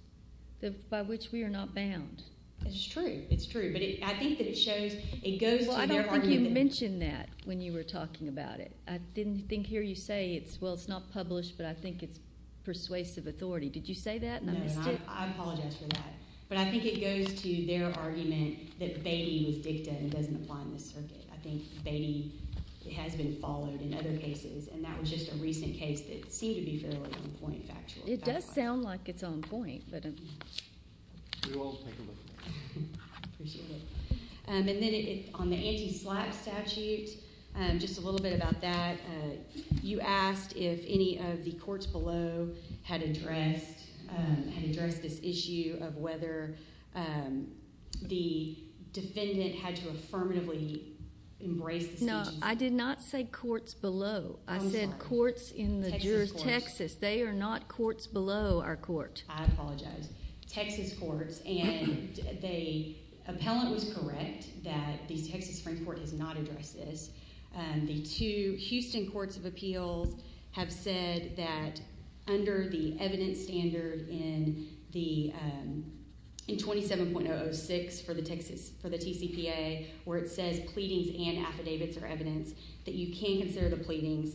by which we are not bound. It's true, it's true, but I think that it shows, it goes to their argument. Well, I don't think you mentioned that when you were talking about it. I didn't think here you say it's, well, it's not published, but I think it's persuasive authority. Did you say that? No, I apologize for that, but I think it goes to their argument that Beatty was dicta and it doesn't apply in this circuit. I think Beatty has been followed in other cases, and that was just a recent case that seemed to be fairly on point factually. It does sound like it's on point, but I'm... We will take a look at it. Appreciate it. And then on the anti-slap statute, just a little bit about that. You asked if any of the courts below had addressed this issue of whether the defendant had to affirmatively embrace... No, I did not say courts below. I said courts in Texas. They are not courts below our court. I apologize. Texas courts, and the appellant was correct that the Texas Supreme Court has not addressed this. The two Houston courts of appeals have said that under the evidence standard in 27.006 for the TCPA where it says pleadings and affidavits are evidence, that you can consider the pleadings.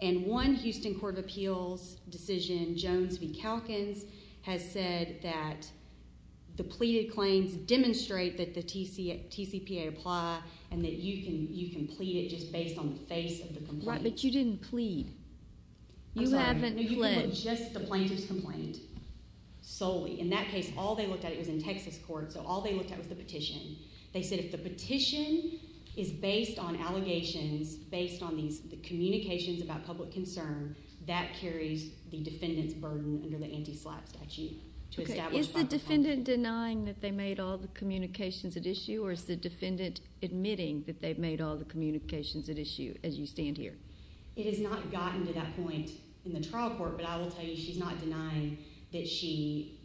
And one Houston court of appeals decision, Jones v. Calkins, has said that the pleaded claims demonstrate that the TCPA apply and that you can plead it just based on the face of the complaint. Right, but you didn't plead. I'm sorry. You haven't pled. Just the plaintiff's complaint. Solely. In that case, all they looked at, it was in Texas courts, so all they looked at was the petition. They said if the petition is based on allegations, based on the communications about public concern, that carries the defendant's burden under the anti-slap statute. Is the defendant denying that they made all the communications at issue, or is the defendant admitting that they've made all the communications at issue as you stand here? It has not gotten to that point in the trial court, but I will tell you she's not denying that she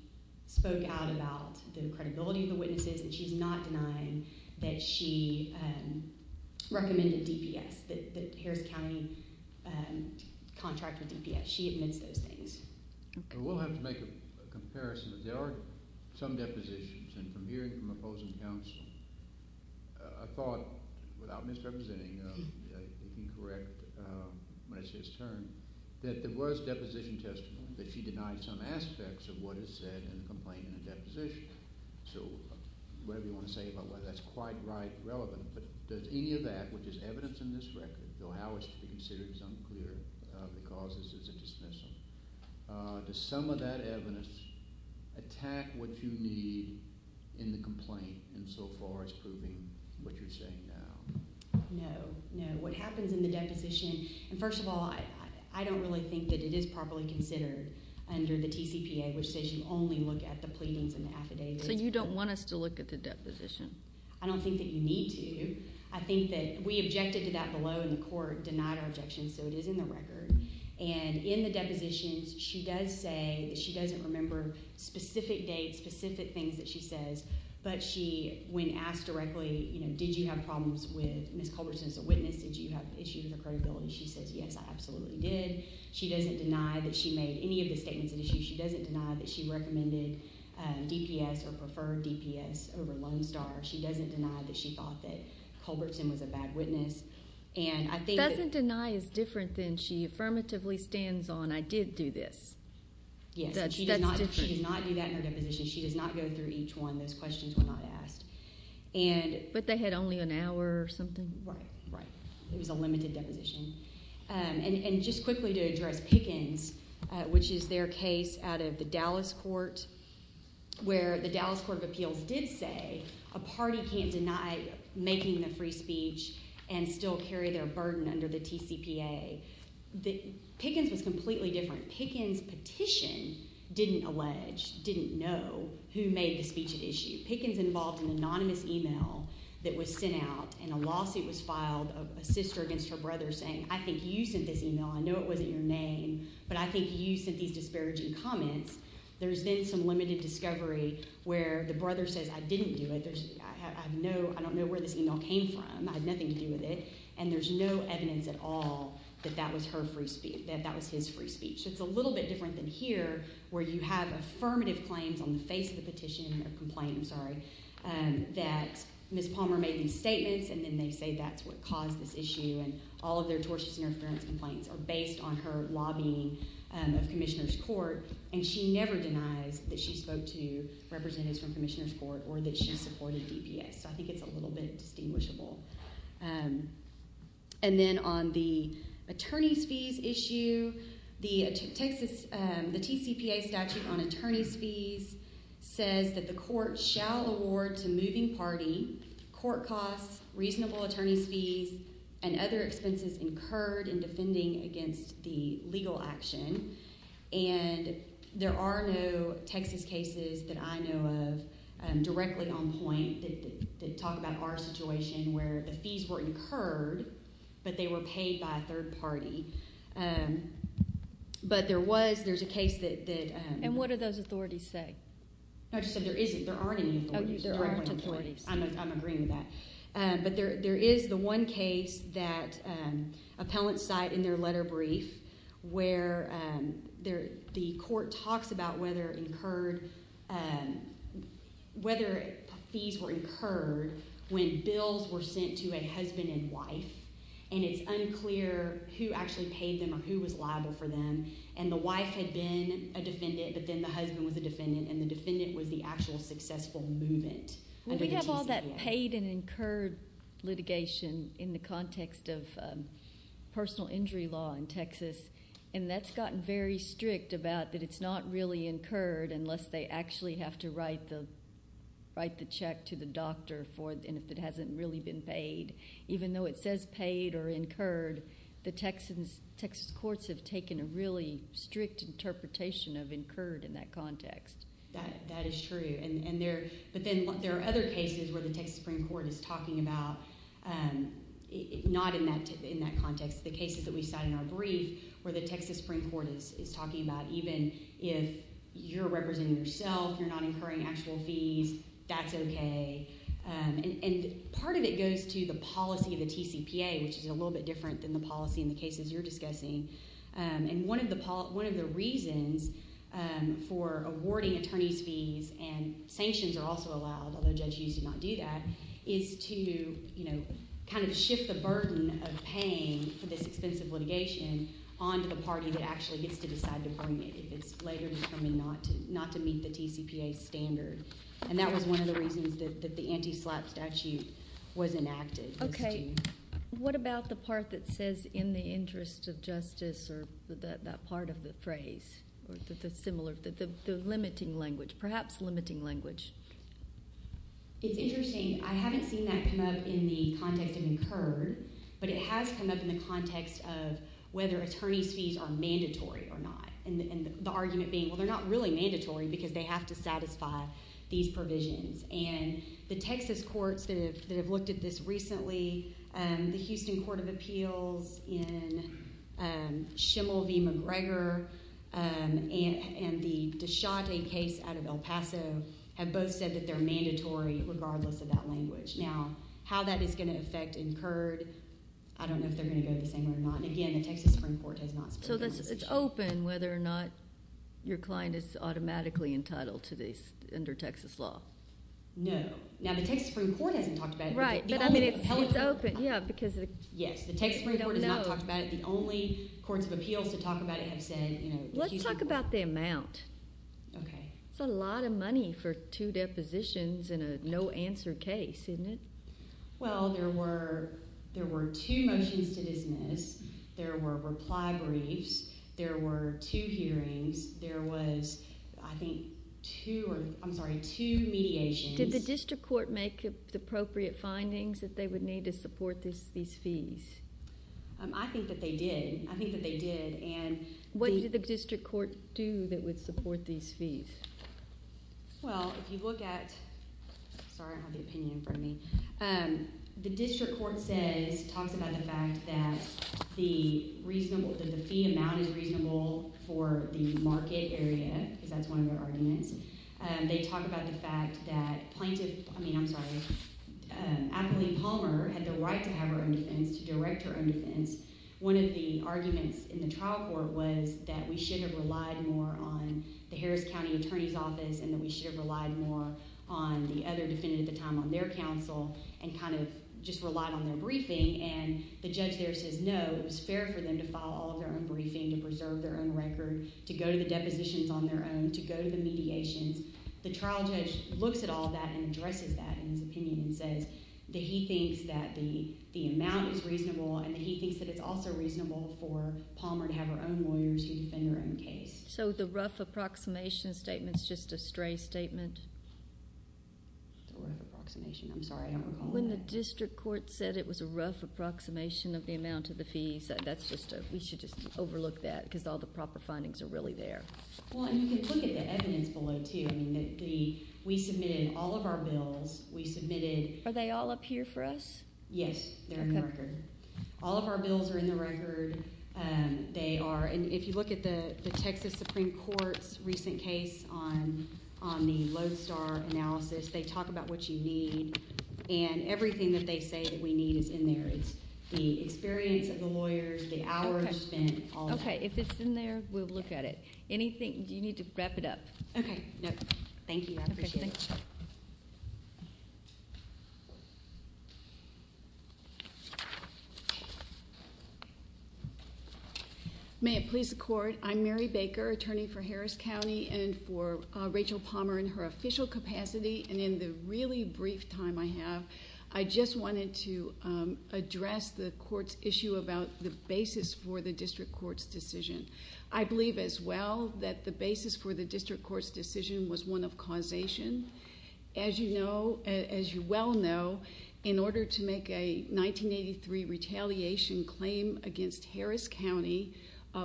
spoke out about the credibility of the witnesses, and she's not denying that she recommended DPS, that Harris County contracted DPS. She admits those things. We'll have to make a comparison. There are some depositions, and from hearing from opposing counsel, I thought, without misrepresenting, if you can correct my sister, that there was deposition testimony, that she denied some aspects of what is said in the complaint in the deposition. So whatever you want to say about whether that's quite right, relevant, but does any of that, which is evidence in this record, though how it's to be considered is unclear because this is a dismissal, does some of that evidence attack what you need in the complaint insofar as proving what you're saying now? No, no. What happens in the deposition, and first of all, I don't really think that it is properly considered under the TCPA, which says you only look at the pleadings and the affidavits. So you don't want us to look at the deposition? I don't think that you need to. I think that we objected to that below, and the court denied our objection, so it is in the record. And in the depositions, she does say that she doesn't remember specific dates, specific things that she says, but she, when asked directly, you know, did you have problems with Ms. Culberson as a witness? Did you have issues with her credibility? She says, yes, I absolutely did. She doesn't deny that she made any of the statements at issue. She doesn't deny that she recommended DPS or preferred DPS over Lone Star. She doesn't deny that she thought that Culberson was a bad witness. Doesn't deny is different than she affirmatively stands on, I did do this. Yes, she does not do that in her deposition. She does not go through each one. Those questions were not asked. But they had only an hour or something? Right, right. It was a limited deposition. And just quickly to address Pickens, which is their case out of the Dallas court, where the Dallas Court of Appeals did say a party can't deny making the free speech and still carry their burden under the TCPA. Pickens was completely different. Pickens' petition didn't allege, didn't know who made the speech at issue. Pickens involved an anonymous email that was sent out and a lawsuit was filed, a sister against her brother saying, I think you sent this email, I know it wasn't your name, but I think you sent these disparaging comments. There's then some limited discovery where the brother says, I didn't do it, I don't know where this email came from, I had nothing to do with it. And there's no evidence at all that that was her free speech, that that was his free speech. So it's a little bit different than here where you have affirmative claims on the face of the petition, or complaint, I'm sorry, that Ms. Palmer made these statements and then they say that's what caused this issue and all of their tortious interference complaints are based on her lobbying of commissioners' court and she never denies that she spoke to representatives from commissioners' court or that she supported DPA. So I think it's a little bit distinguishable. the TCPA statute on attorneys' fees says that the court shall award to moving party court costs, reasonable attorneys' fees and other expenses incurred in defending against the legal action. And there are no Texas cases that I know of directly on point that talk about our situation where the fees were incurred, but they were paid by a third party. But there was, there's a case that... And what do those authorities say? I just said there isn't, there aren't any authorities. There aren't authorities. I'm agreeing with that. But there is the one case that appellants cite in their letter brief where the court talks about whether incurred, whether fees were incurred when bills were sent to a husband and wife and it's unclear who actually paid them or who was liable for them and the wife had been a defendant, but then the husband was a defendant and the defendant was the actual successful movement under the TCPA. We have all that paid and incurred litigation in the context of personal injury law in Texas and that's gotten very strict about that it's not really incurred unless they actually have to write the, write the check to the doctor and if it hasn't really been paid. Even though it says paid or incurred, the Texas courts have taken a really strict interpretation of incurred in that context. That is true and there, but then there are other cases where the Texas Supreme Court is talking about not in that context. The cases that we cite in our brief where the Texas Supreme Court is talking about even if you're representing yourself, you're not incurring actual fees, that's okay. And part of it goes to the policy of the TCPA which is a little bit different than the policy in the cases you're discussing. And one of the reasons for awarding attorney's fees and sanctions are also allowed, although judges do not do that, is to kind of shift the burden of paying for this expensive litigation onto the party that actually gets to decide to bring it if it's later determined not to meet the TCPA standard. And that was one of the reasons that the anti-SLAPP statute was enacted. Okay, what about the part that says in the interest of justice or that part of the phrase, or the similar, the limiting language, perhaps limiting language? It's interesting, I haven't seen that come up in the context of incurred, but it has come up in the context of whether attorney's fees are mandatory or not. And the argument being, well they're not really mandatory because they have to satisfy these provisions. And the Texas courts that have looked at this recently, the Houston Court of Appeals, and Schimel v. McGregor, and the Deschate case out of El Paso, have both said that they're mandatory regardless of that language. Now, how that is gonna affect incurred, I don't know if they're gonna go the same way or not. And again, the Texas Supreme Court has not spoken on this issue. So it's open whether or not your client is automatically entitled to this under Texas law. No, now the Texas Supreme Court hasn't talked about it. Right, but I mean it's open, yeah, because... Yes, the Texas Supreme Court has not talked about it. The only courts of appeals to talk about it have said, you know... Let's talk about the amount. Okay. That's a lot of money for two depositions in a no answer case, isn't it? Well, there were two motions to dismiss. There were reply briefs. There were two hearings. There was, I think, two, I'm sorry, two mediations. Did the district court make the appropriate findings that they would need to support these fees? I think that they did. I think that they did, and... What did the district court do that would support these fees? Well, if you look at... Sorry, I don't have the opinion in front of me. The district court says, talks about the fact that the reasonable, that the fee amount is reasonable for the market area, because that's one of their arguments. They talk about the fact that plaintiff... I mean, I'm sorry. I believe Palmer had the right to have her own defense, to direct her own defense. One of the arguments in the trial court was that we should have relied more on the Harris County Attorney's Office and that we should have relied more on the other defendant at the time on their counsel and kind of just relied on their briefing, and the judge there says, no, it was fair for them to file all of their own briefing, to preserve their own record, to go to the depositions on their own, to go to the mediations. The trial judge looks at all of that and addresses that in his opinion and says that he thinks that the amount is reasonable and that he thinks that it's also reasonable for Palmer to have her own lawyers who defend her own case. So the rough approximation statement is just a stray statement? It's a rough approximation. I'm sorry, I don't recall that. When the district court said it was a rough approximation of the amount of the fees, that's just a... We should just overlook that, because all the proper findings are really there. Well, and you can look at the evidence below, too. I mean, we submitted all of our bills. We submitted... Are they all up here for us? Yes, they're in the record. All of our bills are in the record. They are, and if you look at the Texas Supreme Court's recent case on the Lodestar analysis, they talk about what you need, and everything that they say that we need is in there. It's the experience of the lawyers, the hours spent, all of that. Okay, if it's in there, we'll look at it. Anything, do you need to wrap it up? Okay, no. Thank you, I appreciate it. Okay, thanks. May it please the court, I'm Mary Baker, attorney for Harris County and for Rachel Palmer in her official capacity, and in the really brief time I have, I just wanted to address the court's issue about the basis for the district court's decision. I believe as well that the basis for the district court's decision was one of causation. As you know, as you well know, in order to make a 1983 retaliation claim against Harris County,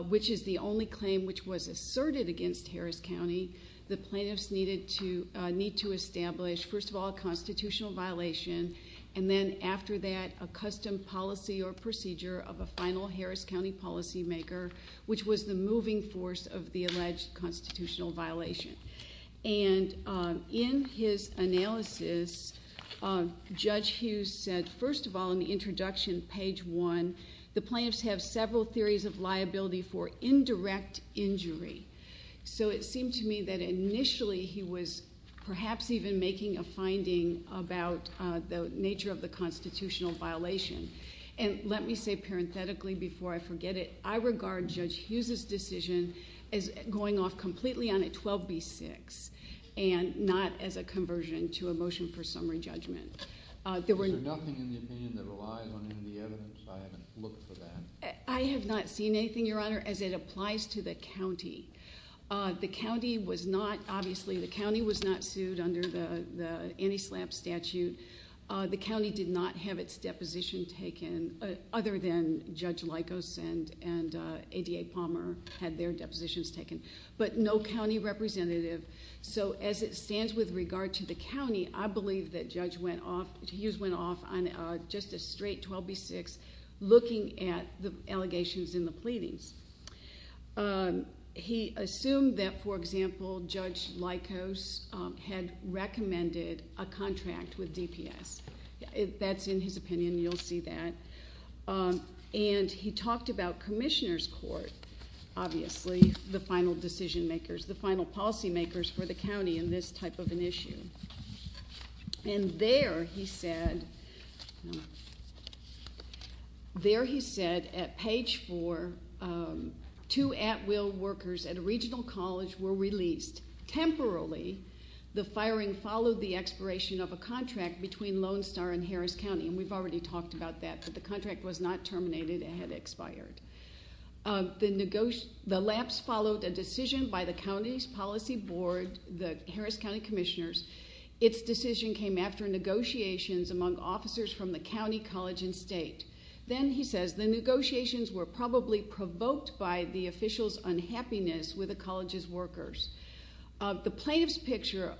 which is the only claim which was asserted against Harris County, the plaintiffs need to establish, first of all, a constitutional violation, and then after that, a custom policy or procedure of a final Harris County policymaker, which was the moving force of the alleged constitutional violation. And in his analysis, Judge Hughes said, first of all, in the introduction, page one, the plaintiffs have several theories of liability for indirect injury. So it seemed to me that initially he was perhaps even making a finding about the nature of the constitutional violation. And let me say parenthetically before I forget it, I regard Judge Hughes's decision as going off completely on a 12B6 and not as a conversion to a motion for summary judgment. There were no... Is there nothing in the opinion that relies on any of the evidence? I haven't looked for that. I have not seen anything, Your Honor, as it applies to the county. The county was not, obviously, the county was not sued under the anti-SLAPP statute. The county did not have its deposition taken other than Judge Lykos and ADA Palmer had their depositions taken. But no county representative. So as it stands with regard to the county, I believe that Judge Hughes went off on just a straight 12B6 looking at the allegations in the pleadings. He assumed that, for example, Judge Lykos had recommended a contract with DPS. That's in his opinion, you'll see that. And he talked about commissioners' court, obviously, the final decision makers, the final policy makers for the county in this type of an issue. And there he said... There he said at page four, two at-will workers at a regional college were released. Temporally, the firing followed the expiration of a contract between Lone Star and Harris County. And we've already talked about that, but the contract was not terminated. It had expired. The lapse followed a decision by the county's policy board, the Harris County commissioners. Its decision came after negotiations among officers from the county, college, and state. Then he says... The plaintiffs picture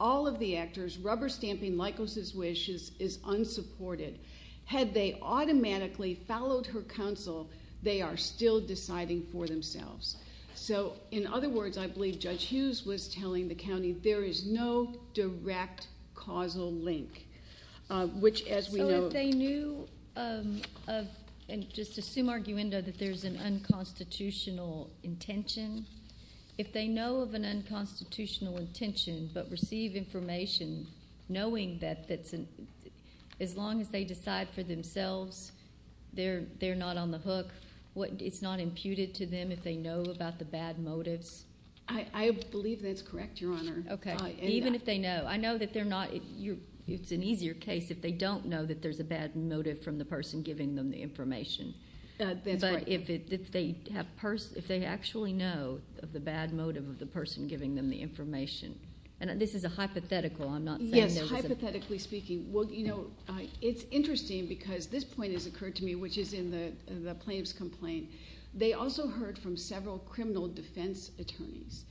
all of the actors rubber-stamping Lykos' wishes is unsupported. Had they automatically followed her counsel, they are still deciding for themselves. So, in other words, I believe Judge Hughes was telling the county, there is no direct causal link. Which, as we know... So if they knew of... And just assume arguendo that there's an unconstitutional intention. If they know of an unconstitutional intention but receive information knowing that... As long as they decide for themselves, they're not on the hook, it's not imputed to them if they know about the bad motives? I believe that's correct, Your Honor. Okay. Even if they know. I know that they're not... It's an easier case if they don't know that there's a bad motive from the person giving them the information. That's right. But if they actually know of the bad motive of the person giving them the information... And this is a hypothetical, I'm not saying... Yes, hypothetically speaking. Well, you know, it's interesting because this point has occurred to me, which is in the plaintiff's complaint. They also heard from several criminal defense attorneys.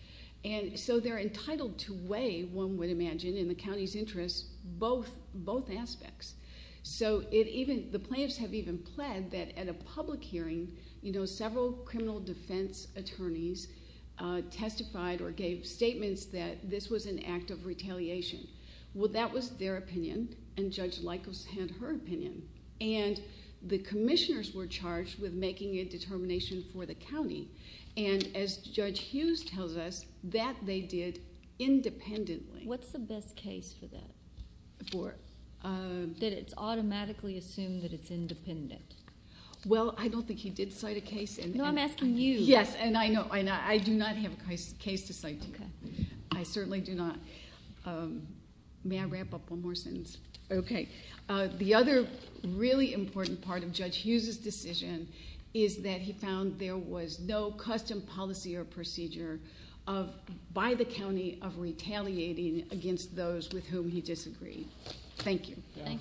And so they're entitled to weigh, one would imagine, in the county's interest, both aspects. So the plaintiffs have even pled that at a public hearing, you know, several criminal defense attorneys testified or gave statements that this was an act of retaliation. Well, that was their opinion, and Judge Likos had her opinion. And the commissioners were charged with making a determination for the county. And as Judge Hughes tells us, that they did independently. What's the best case for that? For? That it's automatically assumed that it's independent. Well, I don't think he did cite a case. No, I'm asking you. Yes, and I do not have a case to cite to you. I certainly do not. May I wrap up one more sentence? Okay. The other really important part of Judge Hughes's decision is that he found there was no custom policy or procedure by the county of retaliating against those with whom he disagreed. Thank you. Counsel,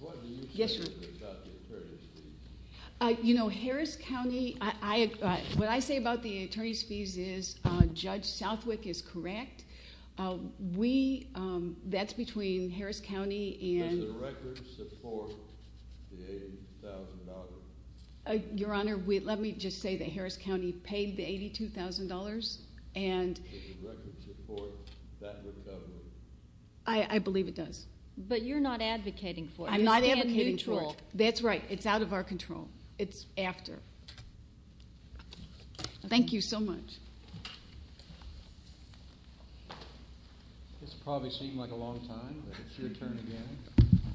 what do you say about the attorney's fees? You know, Harris County, what I say about the attorney's fees is Judge Southwick is correct. That's between Harris County and... Does the record support the $80,000? Your Honor, let me just say that Harris County paid the $82,000. Does the record support that recovery? I believe it does. But you're not advocating for it. I'm not advocating for it. You stand neutral. That's right. It's out of our control. It's after. Thank you so much. This will probably seem like a long time, but it's your turn again.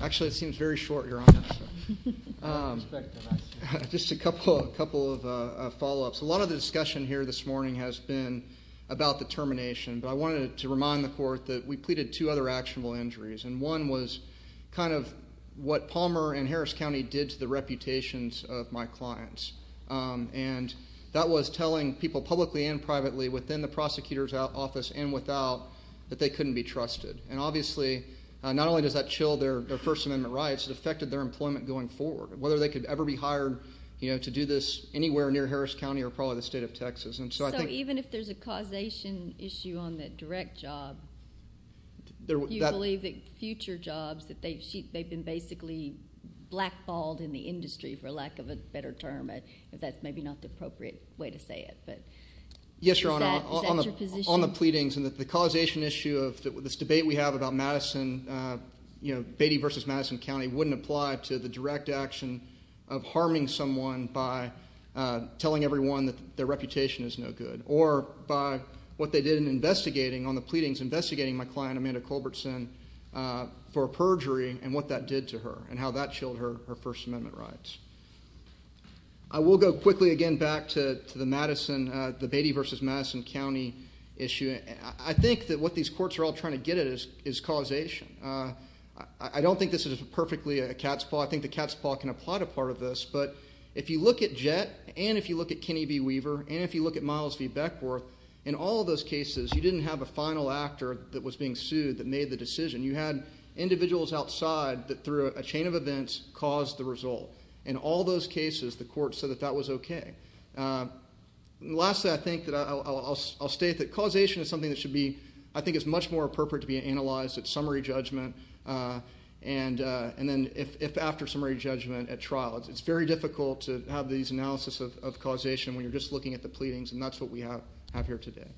Actually, it seems very short, Your Honor. Just a couple of follow-ups. A lot of the discussion here this morning has been about the termination, but I wanted to remind the Court that we pleaded two other actionable injuries, and one was kind of what Palmer and Harris County did to the reputations of my clients. And that was telling people publicly and privately within the prosecutor's office and without that they couldn't be trusted. And obviously not only does that chill their First Amendment rights, it affected their employment going forward, whether they could ever be hired to do this anywhere near Harris County or probably the state of Texas. So even if there's a causation issue on that direct job, do you believe that future jobs that they've been basically blackballed in the industry, for lack of a better term, if that's maybe not the appropriate way to say it? Yes, Your Honor. Is that your position? On the pleadings and the causation issue of this debate we have about Madison, Beatty v. Madison County, wouldn't apply to the direct action of harming someone by telling everyone that their reputation is no good or by what they did in investigating on the pleadings, investigating my client Amanda Culbertson for perjury and what that did to her and how that chilled her First Amendment rights. I will go quickly again back to the Madison, the Beatty v. Madison County issue. I think that what these courts are all trying to get at is causation. I don't think this is perfectly a cat's paw. I think the cat's paw can apply to part of this. But if you look at Jett and if you look at Kenny B. Weaver and if you look at Miles v. Beckworth, in all of those cases you didn't have a final actor that was being sued that made the decision. You had individuals outside that through a chain of events caused the result. In all those cases the court said that that was okay. Lastly, I think that I'll state that causation is something that should be, I think it's much more appropriate to be analyzed at summary judgment and then if after summary judgment at trial. It's very difficult to have these analysis of causation when you're just looking at the pleadings, and that's what we have here today.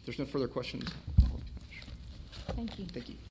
If there's no further questions. Thank you.